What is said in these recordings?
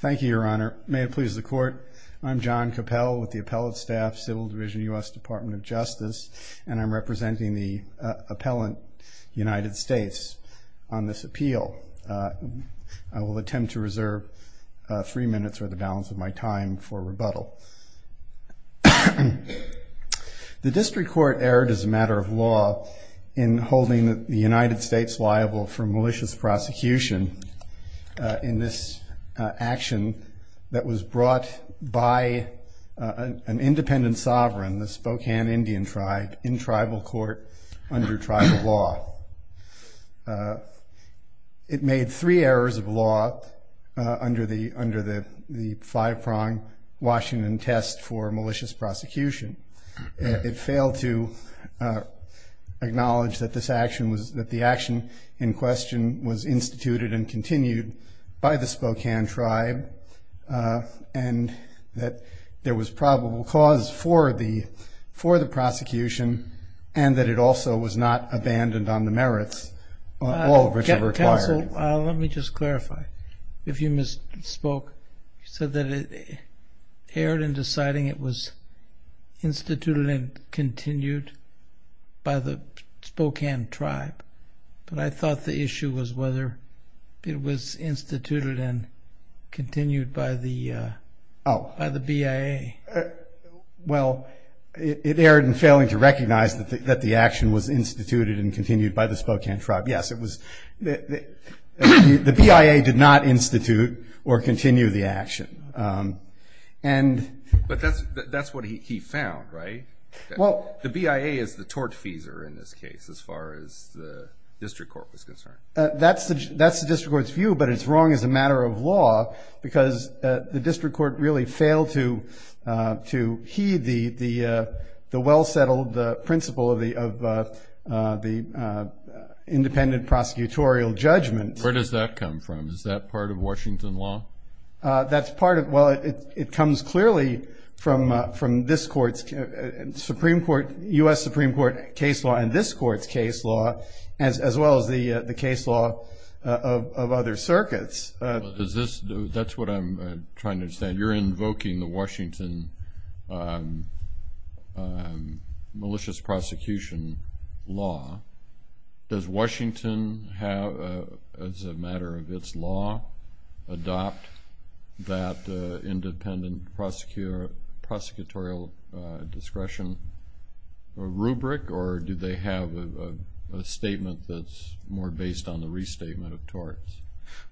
Thank you, Your Honor. May it please the Court, I'm John Capell with the Appellate Staff, Civil Division, U.S. Department of Justice, and I'm representing the appellant, United States, on this appeal. I will attempt to reserve three minutes, or the balance of my time, for rebuttal. The district court erred as a matter of law in holding the United States liable for malicious prosecution in this action that was brought by an independent sovereign, the Spokane Indian tribe, in tribal court under tribal law. It made three errors of law under the five-pronged Washington test for malicious prosecution. It failed to acknowledge that the action in question was instituted and continued by the Spokane tribe, and that there was probable cause for the prosecution, and that it also was not abandoned on the ground. Counsel, let me just clarify. If you misspoke, you said that it erred in deciding it was instituted and continued by the Spokane tribe, but I thought the issue was whether it was instituted and continued by the BIA. Well, it erred in failing to recognize that the action was instituted and continued by the Spokane tribe. Yes, the BIA did not institute or continue the action. But that's what he found, right? The BIA is the tortfeasor in this case, as far as the district court was concerned. That's the district court's view, but it's wrong as a matter of law because the district court really failed to heed the well-settled principle of the independent prosecutorial judgment. Where does that come from? Is that part of Washington law? Well, it comes clearly from U.S. Supreme Court case law and this court's case law, as well as the case law of other circuits. That's what I'm trying to understand. You're invoking the Washington malicious prosecution law. Does Washington, as a matter of its law, adopt that independent prosecutorial discretion rubric, or do they have a statement that's more based on the restatement of torts?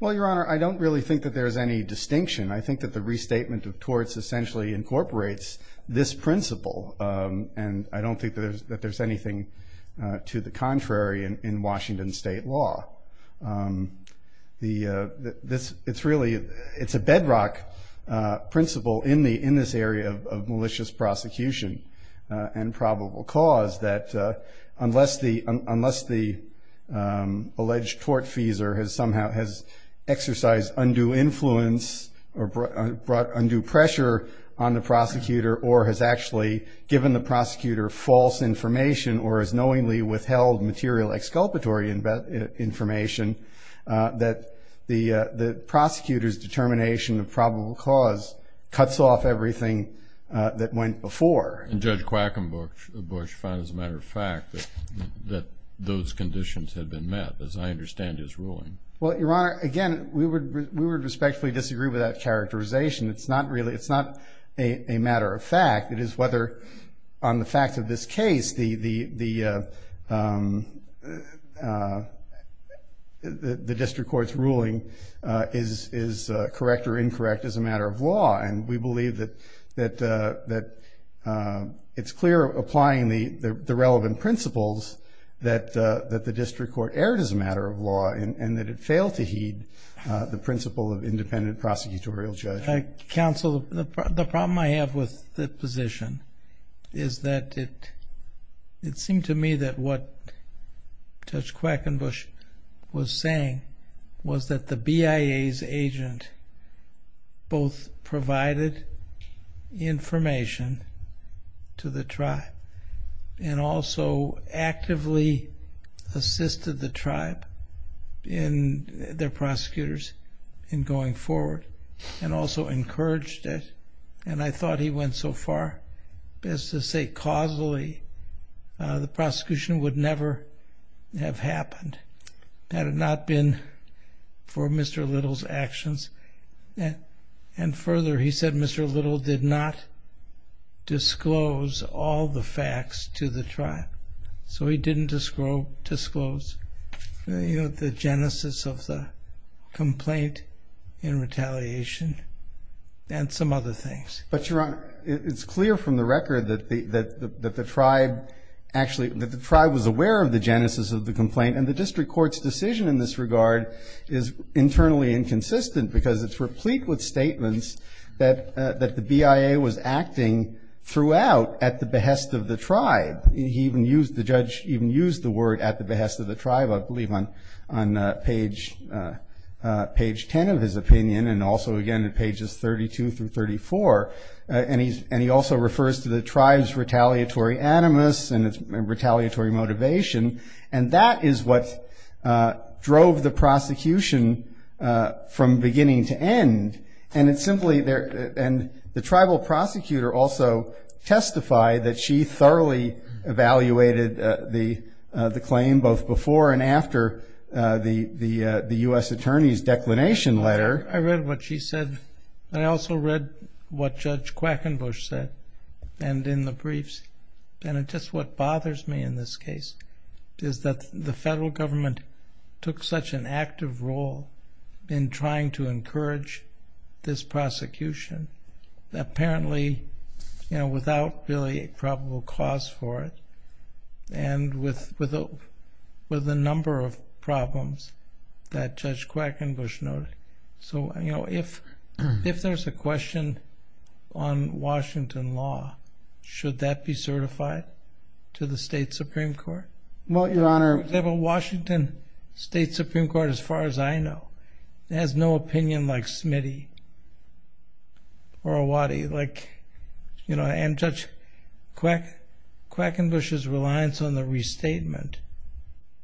Well, Your Honor, I don't really think that there's any distinction. I think that the restatement of torts essentially incorporates this principle, and I don't think that there's anything to the contrary in Washington state law. It's a bedrock principle in this area of malicious prosecution and probable cause that unless the alleged tortfeasor has somehow exercised undue influence or brought undue pressure on the prosecutor, or has actually given the prosecutor false information or has knowingly withheld material exculpatory information, that the prosecutor's determination of probable cause cuts off everything that went before. And Judge Quackenbush found, as a matter of fact, that those conditions had been met, as I understand his ruling. Well, Your Honor, again, we would respectfully disagree with that characterization. It's not a matter of fact. It is whether, on the fact of this case, the district court's ruling is correct or incorrect as a matter of law. And we believe that it's clear, applying the relevant principles, that the district court erred as a matter of law and that it failed to heed the principle of independent prosecutorial judge. Counsel, the problem I have with the position is that it seemed to me that what Judge Quackenbush was saying was that the BIA's agent both provided information to the tribe and also actively assisted the tribe in their prosecutors in going forward. And also encouraged it. And I thought he went so far as to say causally the prosecution would never have happened had it not been for Mr. Little's actions. And further, he said Mr. Little did not disclose all the facts to the tribe. So he didn't disclose the genesis of the complaint in retaliation and some other things. But, Your Honor, it's clear from the record that the tribe was aware of the genesis of the complaint. And the district court's decision in this regard is internally inconsistent because it's replete with statements that the BIA was acting throughout at the behest of the tribe. The judge even used the word at the behest of the tribe, I believe, on page 10 of his opinion and also, again, in pages 32 through 34. And he also refers to the tribe's retaliatory animus and retaliatory motivation. And that is what drove the prosecution from beginning to end. And the tribal prosecutor also testified that she thoroughly evaluated the claim both before and after the U.S. attorney's declination letter. I read what she said, and I also read what Judge Quackenbush said, and in the briefs. And just what bothers me in this case is that the federal government took such an active role in trying to encourage this prosecution, apparently without really a probable cause for it, and with a number of problems that Judge Quackenbush noted. So if there's a question on Washington law, should that be certified to the state Supreme Court? Well, Your Honor, Washington State Supreme Court, as far as I know, has no opinion like Smitty or Owhadi. And Judge Quackenbush's reliance on the restatement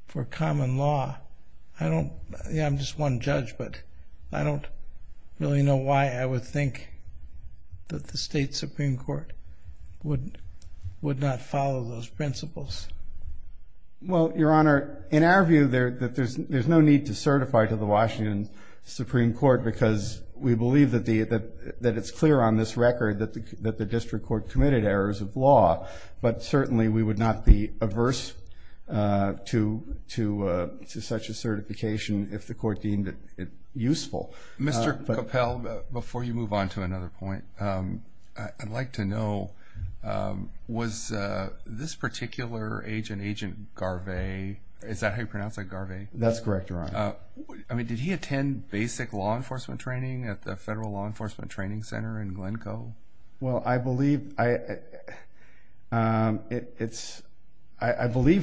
for common law, I'm just one judge, but I don't really know why I would think that the state Supreme Court would not follow those principles. Well, Your Honor, in our view, there's no need to certify to the Washington Supreme Court because we believe that it's clear on this record that the district court committed errors of law. But certainly we would not be averse to such a certification if the court deemed it useful. Mr. Coppell, before you move on to another point, I'd like to know, was this particular agent, Agent Garvey, is that how you pronounce it, Garvey? That's correct, Your Honor. I mean, did he attend basic law enforcement training at the Federal Law Enforcement Training Center in Glencoe? Well, I believe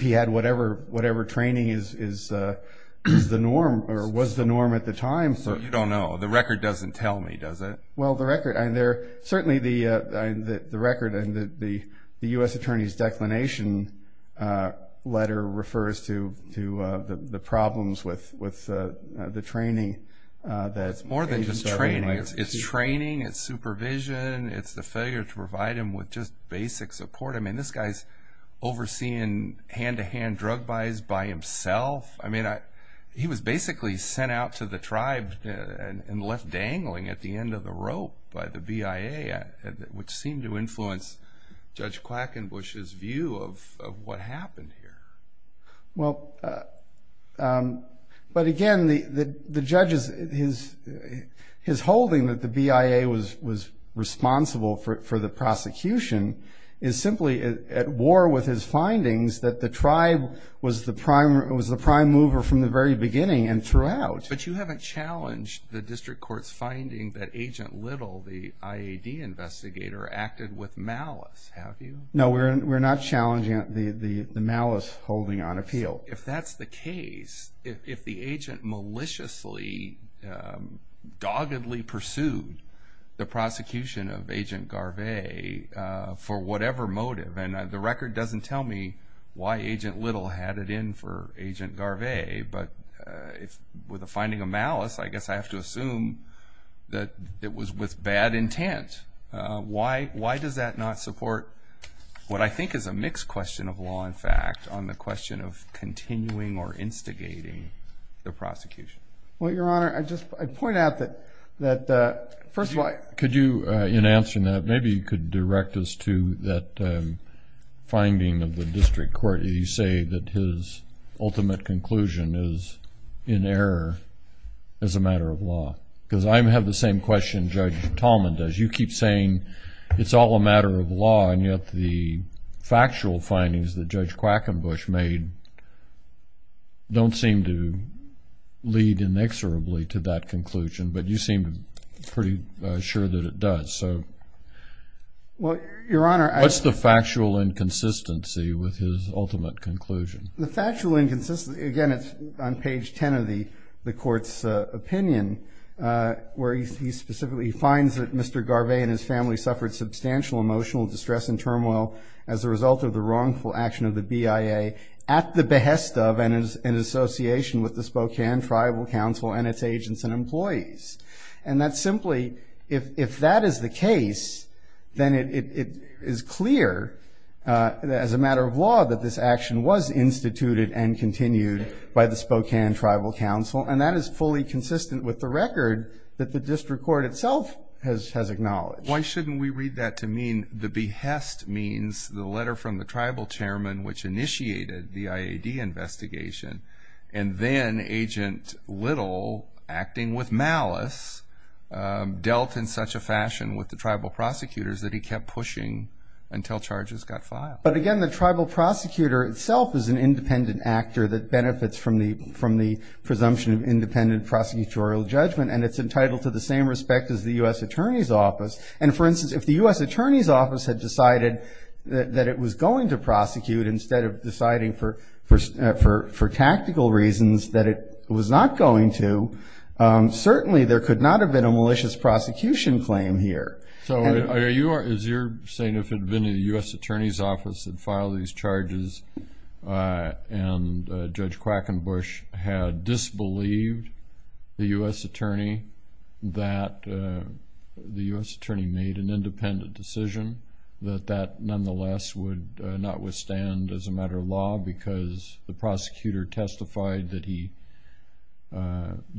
he had whatever training was the norm at the time. You don't know. The record doesn't tell me, does it? Well, certainly the record and the U.S. Attorney's declination letter refers to the problems with the training that Agent Garvey might have received. by the BIA, which seemed to influence Judge Quackenbush's view of what happened here. Well, but again, the judge's holding that the BIA was responsible for the prosecution is simply at war with his findings that the tribe was the prime mover from the very beginning and throughout. But you haven't challenged the district court's finding that Agent Little, the IAD investigator, acted with malice, have you? No, we're not challenging the malice holding on appeal. If that's the case, if the agent maliciously, doggedly pursued the prosecution of Agent Garvey for whatever motive, and the record doesn't tell me why Agent Little had it in for Agent Garvey, but with the finding of malice, I guess I have to assume that it was with bad intent. Why does that not support what I think is a mixed question of law and fact on the question of continuing or instigating the prosecution? Well, Your Honor, I'd just point out that, first of all— Could you, in answering that, maybe you could direct us to that finding of the district court. You say that his ultimate conclusion is in error as a matter of law, because I have the same question Judge Tallman does. You keep saying it's all a matter of law, and yet the factual findings that Judge Quackenbush made don't seem to lead inexorably to that conclusion. But you seem pretty sure that it does. Well, Your Honor— What's the factual inconsistency with his ultimate conclusion? The factual inconsistency—again, it's on page 10 of the court's opinion, where he specifically finds that Mr. Garvey and his family suffered substantial emotional distress and turmoil as a result of the wrongful action of the BIA at the behest of and in association with the Spokane Tribal Council and its agents and employees. And that's simply—if that is the case, then it is clear as a matter of law that this action was instituted and continued by the Spokane Tribal Council, and that is fully consistent with the record that the district court itself has acknowledged. Why shouldn't we read that to mean the behest means the letter from the tribal chairman which initiated the IAD investigation, and then Agent Little, acting with malice, dealt in such a fashion with the tribal prosecutors that he kept pushing until charges got filed? But again, the tribal prosecutor itself is an independent actor that benefits from the presumption of independent prosecutorial judgment, and it's entitled to the same respect as the U.S. Attorney's Office. And for instance, if the U.S. Attorney's Office had decided that it was going to prosecute instead of deciding for tactical reasons that it was not going to, certainly there could not have been a malicious prosecution claim here. So is your saying if it had been the U.S. Attorney's Office that filed these charges and Judge Quackenbush had disbelieved the U.S. Attorney that the U.S. Attorney made an independent decision, that that nonetheless would not withstand as a matter of law because the prosecutor testified that he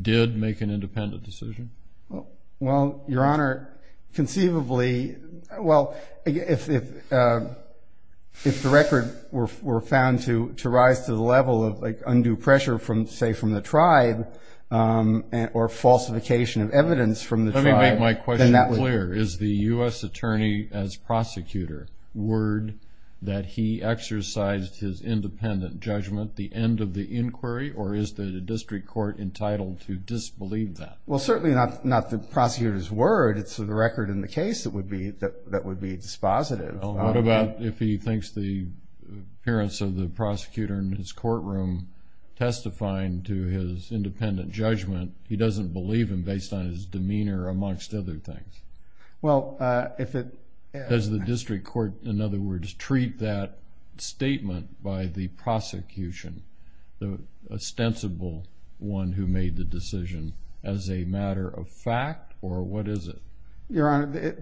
did make an independent decision? Well, Your Honor, conceivably, well, if the record were found to rise to the level of undue pressure, say, from the tribe or falsification of evidence from the tribe, Let me make my question clear. Is the U.S. Attorney as prosecutor word that he exercised his independent judgment at the end of the inquiry, or is the district court entitled to disbelieve that? Well, certainly not the prosecutor's word. It's the record in the case that would be dispositive. What about if he thinks the appearance of the prosecutor in his courtroom testifying to his independent judgment, he doesn't believe him based on his demeanor amongst other things? Well, if it... Does the district court, in other words, treat that statement by the prosecution, the ostensible one who made the decision, as a matter of fact, or what is it? Your Honor,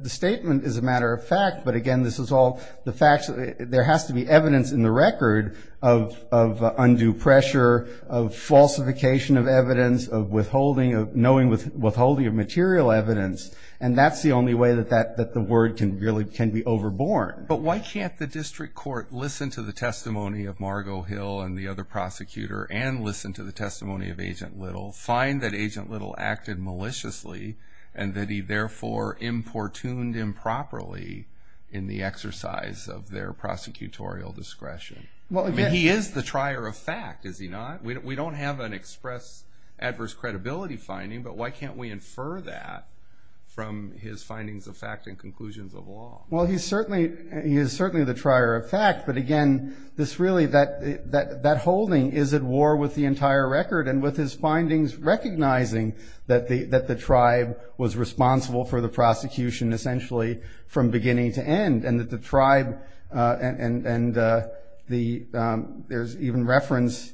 the statement is a matter of fact, but, again, this is all the facts. There has to be evidence in the record of undue pressure, of falsification of evidence, of withholding, of knowing withholding of material evidence, and that's the only way that the word can really be overborne. But why can't the district court listen to the testimony of Margo Hill and the other prosecutor and listen to the testimony of Agent Little, find that Agent Little acted maliciously and that he therefore importuned improperly in the exercise of their prosecutorial discretion? I mean, he is the trier of fact, is he not? We don't have an express adverse credibility finding, but why can't we infer that from his findings of fact and conclusions of law? Well, he's certainly the trier of fact, but, again, this really, that holding is at war with the entire record and with his findings recognizing that the tribe was responsible for the prosecution essentially from beginning to end and that the tribe and there's even reference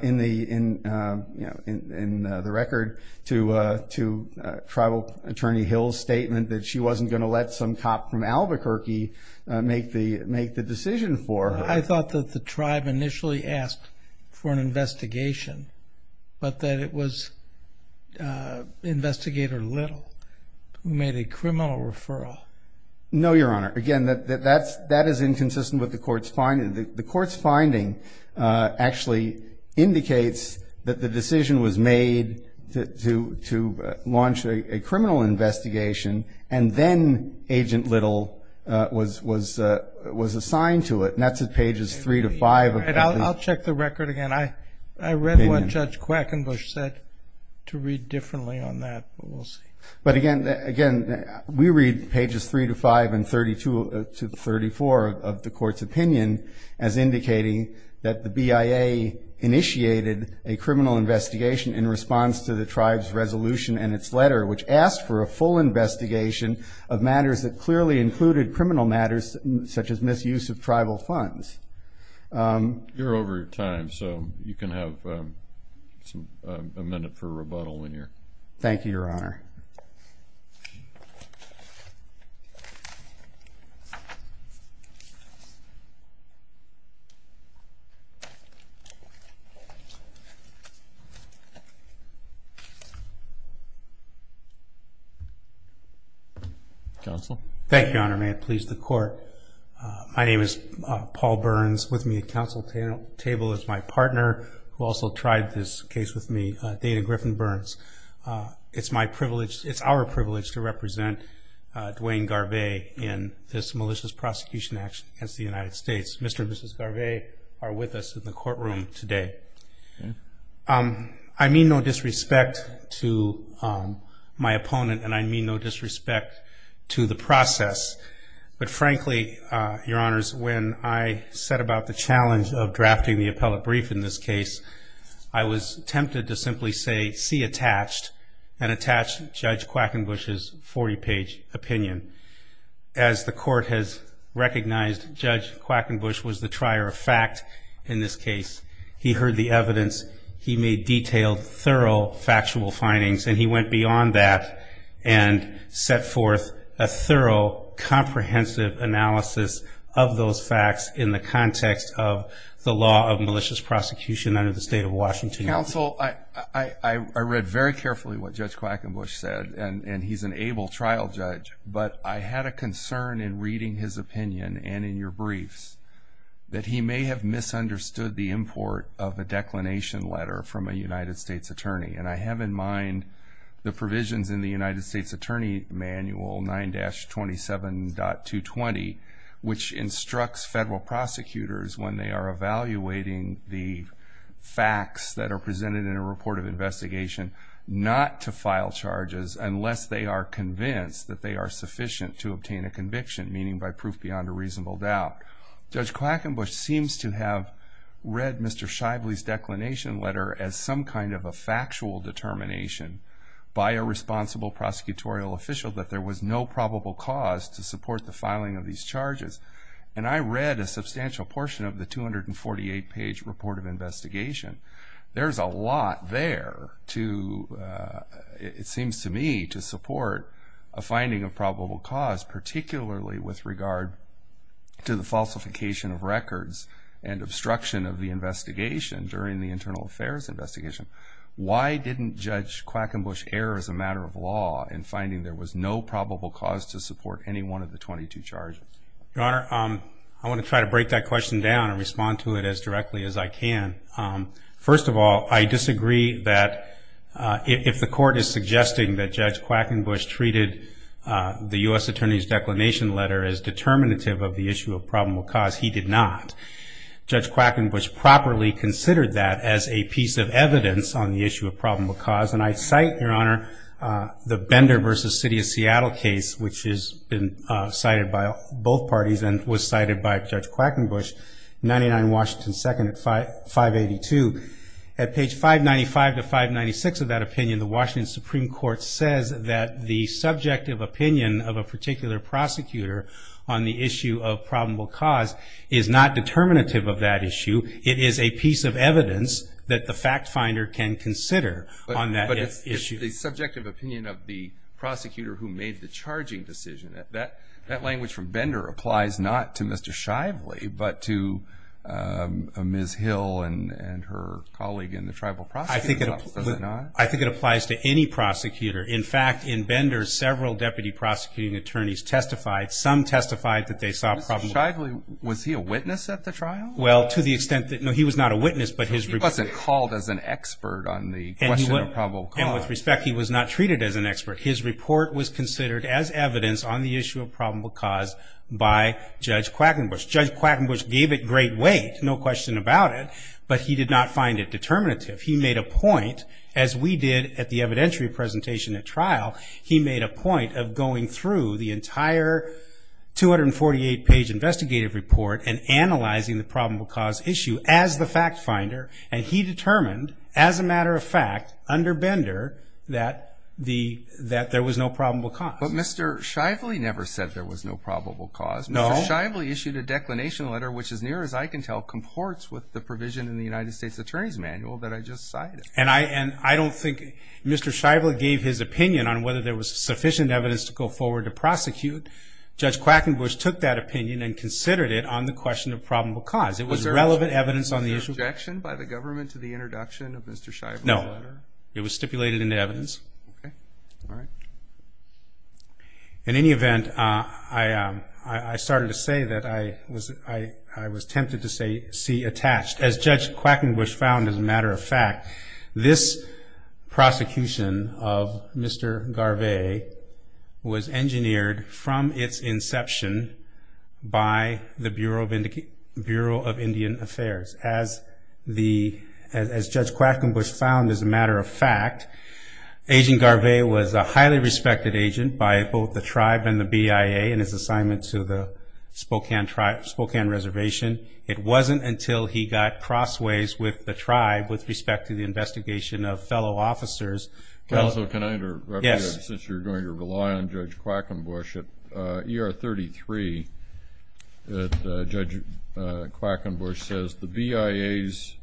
in the record to Tribal Attorney Hill's statement that she wasn't going to let some cop from Albuquerque make the decision for her. I thought that the tribe initially asked for an investigation, but that it was Investigator Little who made a criminal referral. No, Your Honor. Again, that is inconsistent with the court's finding. The court's finding actually indicates that the decision was made to launch a criminal investigation and then Agent Little was assigned to it, and that's at pages 3 to 5. I'll check the record again. I read what Judge Quackenbush said to read differently on that, but we'll see. But, again, we read pages 3 to 5 and 32 to 34 of the court's opinion as indicating that the BIA initiated a criminal investigation in response to the tribe's resolution and its letter which asked for a full investigation of matters that clearly included criminal matters such as misuse of tribal funds. You're over your time, so you can have a minute for rebuttal when you're... Thank you, Your Honor. Counsel? Thank you, Your Honor. May it please the court. My name is Paul Burns. With me at counsel table is my partner who also tried this case with me, Dana Griffin-Burns. It's my privilege... It's our privilege to represent Dwayne Garvey in this malicious prosecution action against the United States. Mr. and Mrs. Garvey are with us in the courtroom today. I mean no disrespect to my opponent, and I mean no disrespect to the process. But, frankly, Your Honors, when I set about the challenge of drafting the appellate brief in this case, I was tempted to simply say, see attached, and attach Judge Quackenbush's 40-page opinion. As the court has recognized, Judge Quackenbush was the trier of fact in this case. He heard the evidence. He made detailed, thorough, factual findings, and he went beyond that and set forth a thorough, comprehensive analysis of those facts in the context of the law of malicious prosecution under the state of Washington. Counsel, I read very carefully what Judge Quackenbush said, and he's an able trial judge, but I had a concern in reading his opinion and in your briefs that he may have misunderstood the import of a declination letter from a United States attorney. And I have in mind the provisions in the United States Attorney Manual 9-27.220, which instructs federal prosecutors when they are evaluating the facts that are presented in a report of investigation not to file charges unless they are convinced that they are sufficient to obtain a conviction, meaning by proof beyond a reasonable doubt. Judge Quackenbush seems to have read Mr. Shively's declination letter as some kind of a factual determination by a responsible prosecutorial official that there was no probable cause to support the filing of these charges. And I read a substantial portion of the 248-page report of investigation. There's a lot there to, it seems to me, to support a finding of probable cause, particularly with regard to the falsification of records and obstruction of the investigation during the internal affairs investigation. Why didn't Judge Quackenbush err as a matter of law in finding there was no probable cause to support any one of the 22 charges? Your Honor, I want to try to break that question down and respond to it as directly as I can. First of all, I disagree that if the court is suggesting that Judge Quackenbush treated the U.S. Attorney's declination letter as determinative of the issue of probable cause, he did not. Judge Quackenbush properly considered that as a piece of evidence on the issue of probable cause. And I cite, Your Honor, the Bender v. City of Seattle case, which has been cited by both parties and was cited by Judge Quackenbush, 99 Washington 2nd at 582. At page 595 to 596 of that opinion, the Washington Supreme Court says that the subjective opinion of a particular prosecutor on the issue of probable cause is not determinative of that issue. It is a piece of evidence that the fact finder can consider on that issue. But it's the subjective opinion of the prosecutor who made the charging decision. That language from Bender applies not to Mr. Shively, but to Ms. Hill and her colleague in the tribal prosecutor's office, does it not? I think it applies to any prosecutor. In fact, in Bender, several deputy prosecuting attorneys testified. Some testified that they saw probable cause. Mr. Shively, was he a witness at the trial? Well, to the extent that, no, he was not a witness. He wasn't called as an expert on the question of probable cause. And with respect, he was not treated as an expert. His report was considered as evidence on the issue of probable cause by Judge Quackenbush. Judge Quackenbush gave it great weight, no question about it, but he did not find it determinative. He made a point, as we did at the evidentiary presentation at trial, he made a point of going through the entire 248-page investigative report and analyzing the probable cause issue as the fact finder. And he determined, as a matter of fact, under Bender, that there was no probable cause. But Mr. Shively never said there was no probable cause. No. Mr. Shively issued a declination letter, which, as near as I can tell, comports with the provision in the United States Attorney's Manual that I just cited. And I don't think Mr. Shively gave his opinion on whether there was sufficient evidence to go forward to prosecute. Judge Quackenbush took that opinion and considered it on the question of probable cause. It was relevant evidence on the issue. Was there objection by the government to the introduction of Mr. Shively's letter? No. It was stipulated in the evidence. Okay. All right. In any event, I started to say that I was tempted to say see attached. As Judge Quackenbush found as a matter of fact, this prosecution of Mr. Garvey was engineered from its inception by the Bureau of Indian Affairs. As Judge Quackenbush found as a matter of fact, Agent Garvey was a highly respected agent by both the tribe and the BIA in his assignment to the Spokane Reservation. It wasn't until he got crossways with the tribe with respect to the investigation of fellow officers. Counsel, can I interrupt you? Yes. Since you're going to rely on Judge Quackenbush, at ER 33, Judge Quackenbush says, The BIA's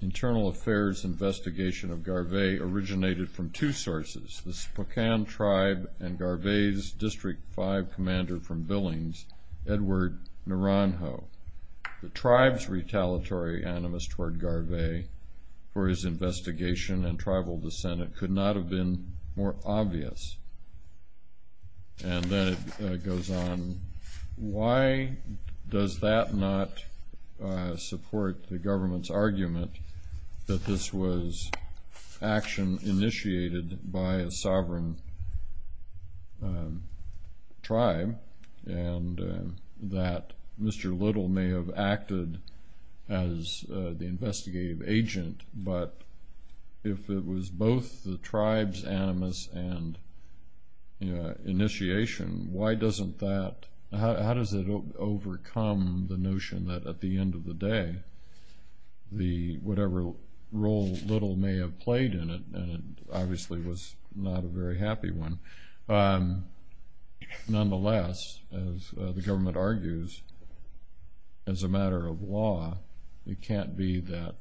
internal affairs investigation of Garvey originated from two sources, the Spokane tribe and Garvey's District 5 commander from Billings, Edward Naranjo. The tribe's retaliatory animus toward Garvey for his investigation and tribal dissent could not have been more obvious. And then it goes on, Why does that not support the government's argument that this was action initiated by a sovereign tribe and that Mr. Little may have acted as the investigative agent, but if it was both the tribe's animus and initiation, how does it overcome the notion that at the end of the day, whatever role Little may have played in it, and it obviously was not a very happy one. Nonetheless, as the government argues, as a matter of law, it can't be that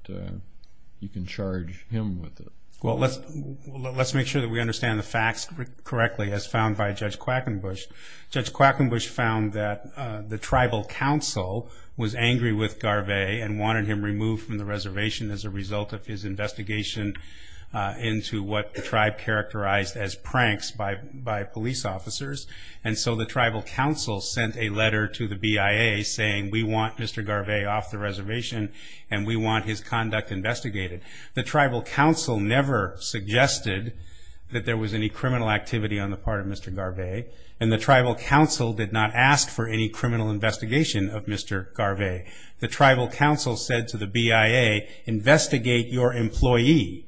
you can charge him with it. Well, let's make sure that we understand the facts correctly as found by Judge Quackenbush. Judge Quackenbush found that the tribal council was angry with Garvey and wanted him removed from the reservation as a result of his investigation into what the tribe characterized as pranks by police officers. And so the tribal council sent a letter to the BIA saying, We want Mr. Garvey off the reservation and we want his conduct investigated. The tribal council never suggested that there was any criminal activity on the part of Mr. Garvey and the tribal council did not ask for any criminal investigation of Mr. Garvey. The tribal council said to the BIA, investigate your employee.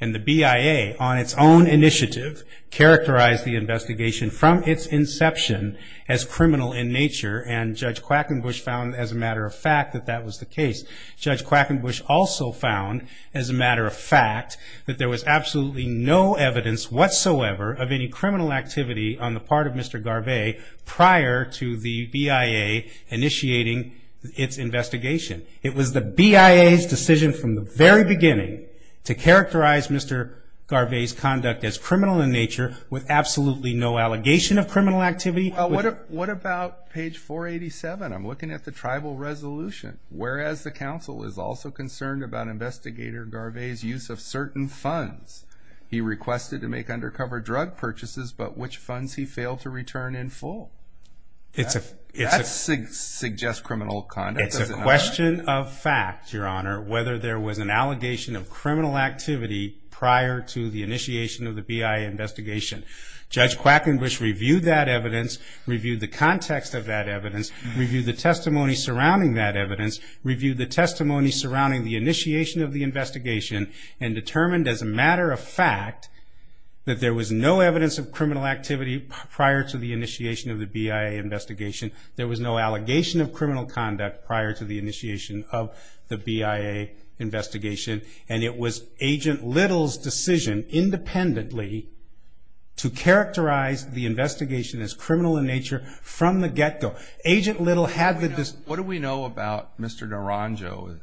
And the BIA on its own initiative characterized the investigation from its inception as criminal in nature and Judge Quackenbush found as a matter of fact that that was the case. Judge Quackenbush also found as a matter of fact that there was absolutely no evidence whatsoever of any criminal activity on the part of Mr. Garvey prior to the BIA initiating its investigation. It was the BIA's decision from the very beginning to characterize Mr. Garvey's conduct as criminal in nature with absolutely no allegation of criminal activity. Well, what about page 487? I'm looking at the tribal resolution. Whereas the council is also concerned about Investigator Garvey's use of certain funds. He requested to make undercover drug purchases, but which funds he failed to return in full. That suggests criminal conduct. It's a question of fact, Your Honor, whether there was an allegation of criminal activity prior to the initiation of the BIA investigation. Judge Quackenbush reviewed that evidence, reviewed the context of that evidence, reviewed the testimony surrounding that evidence, reviewed the testimony surrounding the initiation of the investigation, and determined as a matter of fact that there was no evidence of criminal activity prior to the initiation of the BIA investigation. There was no allegation of criminal conduct prior to the initiation of the BIA investigation, and it was Agent Little's decision independently to characterize the investigation as criminal in nature from the get-go. What do we know about Mr. Naranjo?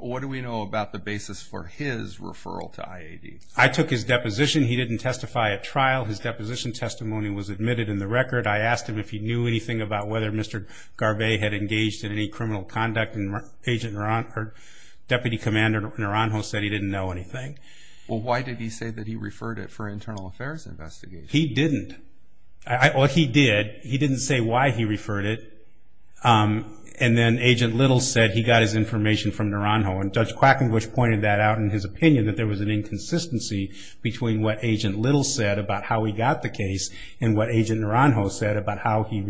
What do we know about the basis for his referral to IAD? I took his deposition. He didn't testify at trial. His deposition testimony was admitted in the record. I asked him if he knew anything about whether Mr. Garvey had engaged in any criminal conduct, and Deputy Commander Naranjo said he didn't know anything. Well, why did he say that he referred it for an internal affairs investigation? He didn't. Well, he did. He didn't say why he referred it. And then Agent Little said he got his information from Naranjo, and Judge Quackenbush pointed that out in his opinion, that there was an inconsistency between what Agent Little said about how he got the case and what Agent Naranjo said about how he had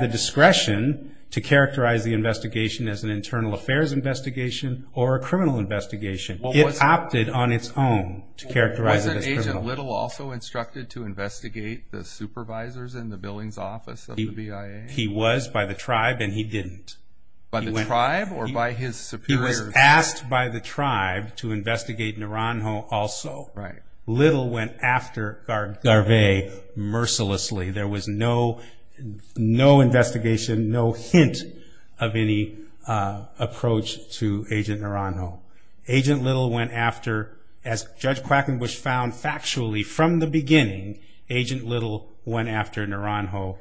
the discretion to characterize the investigation as an internal affairs investigation or a criminal investigation. It opted on its own to characterize it as criminal. Wasn't Agent Little also instructed to investigate the supervisors in the Billings office of the BIA? He was by the tribe, and he didn't. By the tribe or by his superiors? Asked by the tribe to investigate Naranjo also. Little went after Garvey mercilessly. There was no investigation, no hint of any approach to Agent Naranjo. Agent Little went after, as Judge Quackenbush found factually from the beginning, Agent Little went after Garvey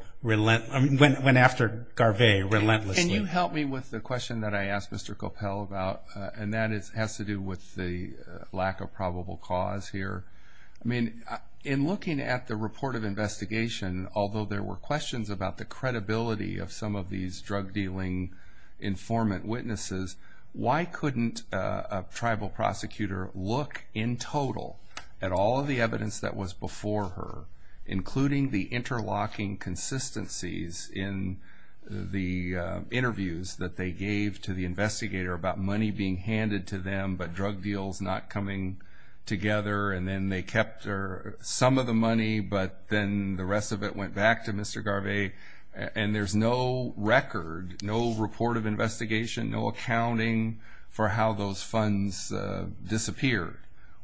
relentlessly. Can you help me with the question that I asked Mr. Coppell about? And that has to do with the lack of probable cause here. I mean, in looking at the report of investigation, although there were questions about the credibility of some of these drug dealing informant witnesses, why couldn't a tribal prosecutor look in total at all of the evidence that was before her, including the interlocking consistencies in the interviews that they gave to the investigator about money being handed to them, but drug deals not coming together, and then they kept some of the money, but then the rest of it went back to Mr. Garvey, and there's no record, no report of investigation, no accounting for how those funds disappeared?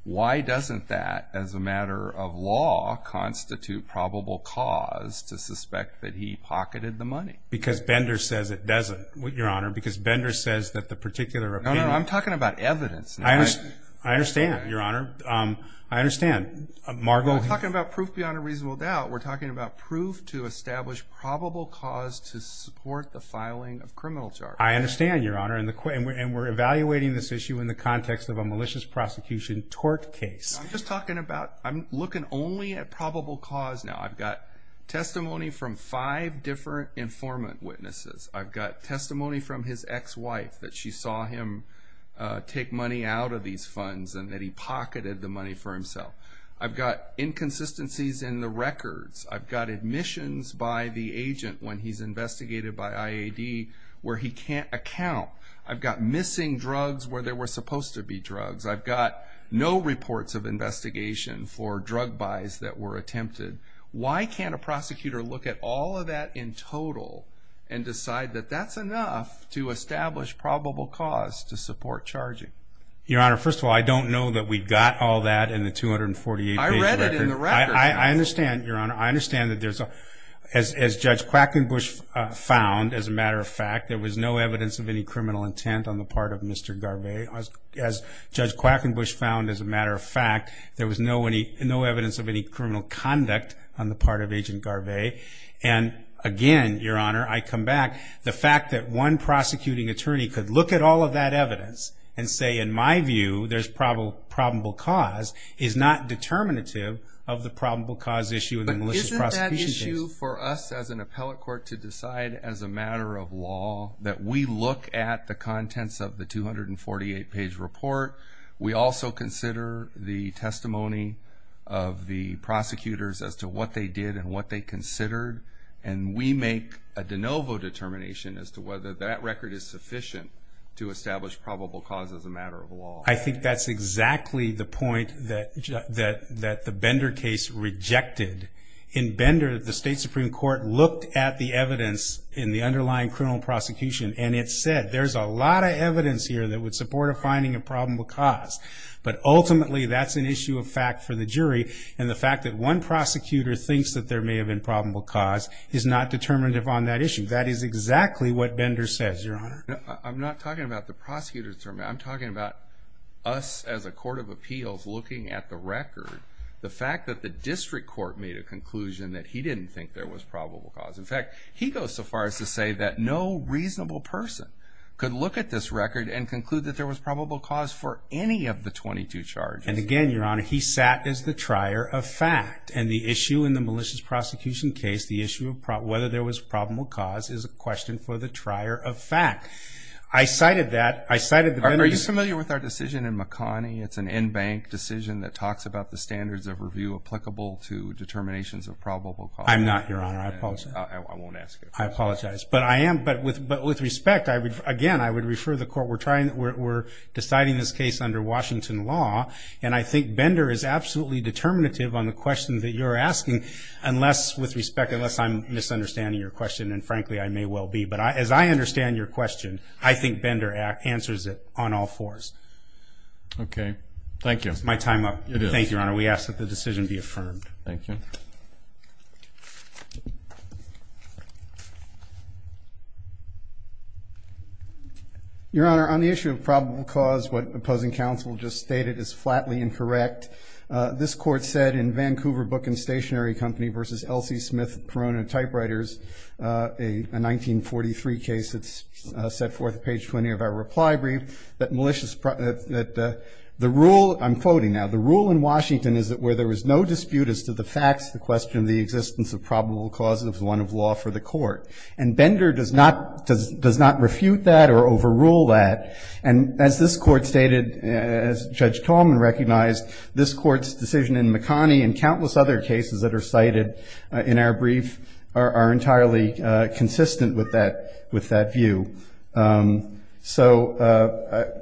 Why doesn't that, as a matter of law, constitute probable cause to suspect that he pocketed the money? Because Bender says it doesn't, Your Honor, because Bender says that the particular opinion... No, no, I'm talking about evidence. I understand, Your Honor. I understand. We're talking about proof beyond a reasonable doubt. We're talking about proof to establish probable cause to support the filing of criminal charges. I understand, Your Honor, and we're evaluating this issue in the context of a malicious prosecution tort case. I'm just talking about, I'm looking only at probable cause now. I've got testimony from five different informant witnesses. I've got testimony from his ex-wife that she saw him take money out of these funds and that he pocketed the money for himself. I've got inconsistencies in the records. I've got admissions by the agent when he's investigated by IAD where he can't account. I've got missing drugs where there were supposed to be drugs. I've got no reports of investigation for drug buys that were attempted. Why can't a prosecutor look at all of that in total and decide that that's enough to establish probable cause to support charging? Your Honor, first of all, I don't know that we've got all that in the 248-page record. I read it in the record. I understand, Your Honor. I understand that as Judge Quackenbush found, as a matter of fact, there was no evidence of any criminal intent on the part of Mr. Garvey. As Judge Quackenbush found, as a matter of fact, there was no evidence of any criminal conduct on the part of Agent Garvey. Again, Your Honor, I come back. The fact that one prosecuting attorney could look at all of that evidence and say, in my view, there's probable cause is not determinative of the probable cause issue in the malicious prosecution case. It's an issue for us as an appellate court to decide, as a matter of law, that we look at the contents of the 248-page report. We also consider the testimony of the prosecutors as to what they did and what they considered, and we make a de novo determination as to whether that record is sufficient I think that's exactly the point that the Bender case rejected. In Bender, the State Supreme Court looked at the evidence in the underlying criminal prosecution, and it said there's a lot of evidence here that would support a finding of probable cause. But ultimately, that's an issue of fact for the jury, and the fact that one prosecutor thinks that there may have been probable cause is not determinative on that issue. That is exactly what Bender says, Your Honor. I'm not talking about the prosecutors. I'm talking about us as a court of appeals looking at the record, the fact that the district court made a conclusion that he didn't think there was probable cause. In fact, he goes so far as to say that no reasonable person could look at this record and conclude that there was probable cause for any of the 22 charges. And again, Your Honor, he sat as the trier of fact, and the issue in the malicious prosecution case, the issue of whether there was probable cause is a question for the trier of fact. I cited that. I cited the Bender case. Are you familiar with our decision in McConney? It's an in-bank decision that talks about the standards of review applicable to determinations of probable cause. I'm not, Your Honor. I apologize. I won't ask it. I apologize. But I am. But with respect, again, I would refer the court. We're deciding this case under Washington law, and I think Bender is absolutely determinative on the question that you're asking, unless with respect, unless I'm misunderstanding your question, and frankly, I may well be. But as I understand your question, I think Bender answers it on all fours. Okay. Thank you. Is my time up? It is. Thank you, Your Honor. We ask that the decision be affirmed. Thank you. Your Honor, on the issue of probable cause, what opposing counsel just stated is flatly incorrect. This Court said in Vancouver Book and Stationery Company v. Elsie Smith, Perona Typewriters, a 1943 case that's set forth page 20 of our reply brief, that the rule, I'm quoting now, the rule in Washington is that where there is no dispute as to the facts, the question of the existence of probable cause is one of law for the Court. And Bender does not refute that or overrule that. And as this Court stated, as Judge Tallman recognized, this Court's decision in McConnie and countless other cases that are cited in our brief are entirely consistent with that view. So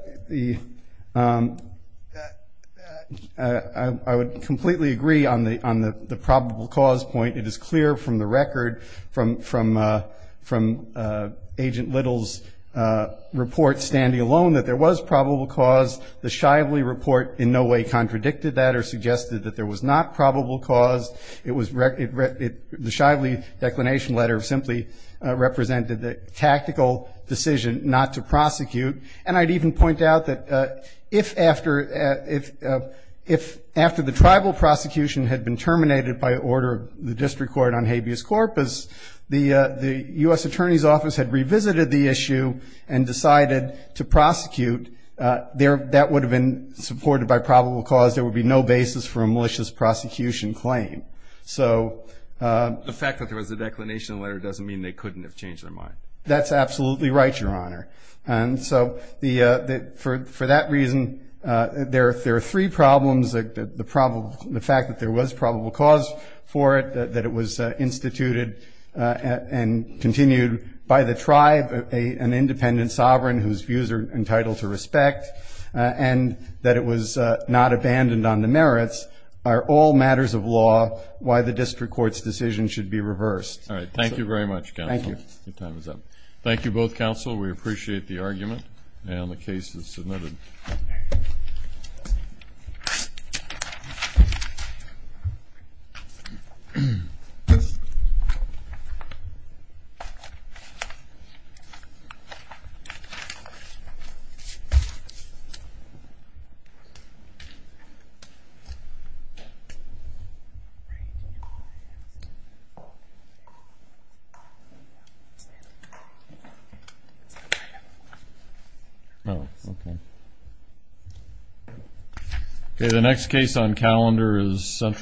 I would completely agree on the probable cause point. It is clear from the record, from Agent Little's report standing alone, that there was probable cause. The Shively report in no way contradicted that or suggested that there was not probable cause. The Shively declination letter simply represented the tactical decision not to prosecute. And I'd even point out that if after the tribal prosecution had been terminated by order of the District Court on habeas corpus, the U.S. Attorney's Office had revisited the issue and decided to prosecute, that would have been supported by probable cause. There would be no basis for a malicious prosecution claim. The fact that there was a declination letter doesn't mean they couldn't have changed their mind. That's absolutely right, Your Honor. And so for that reason, there are three problems. The fact that there was probable cause for it, that it was instituted and continued by the tribe, an independent sovereign whose views are entitled to respect, and that it was not abandoned on the merits are all matters of law why the District Court's decision should be reversed. All right. Thank you very much, Counsel. Thank you. Your time is up. Thank you both, Counsel. We appreciate the argument and the cases submitted. Thank you.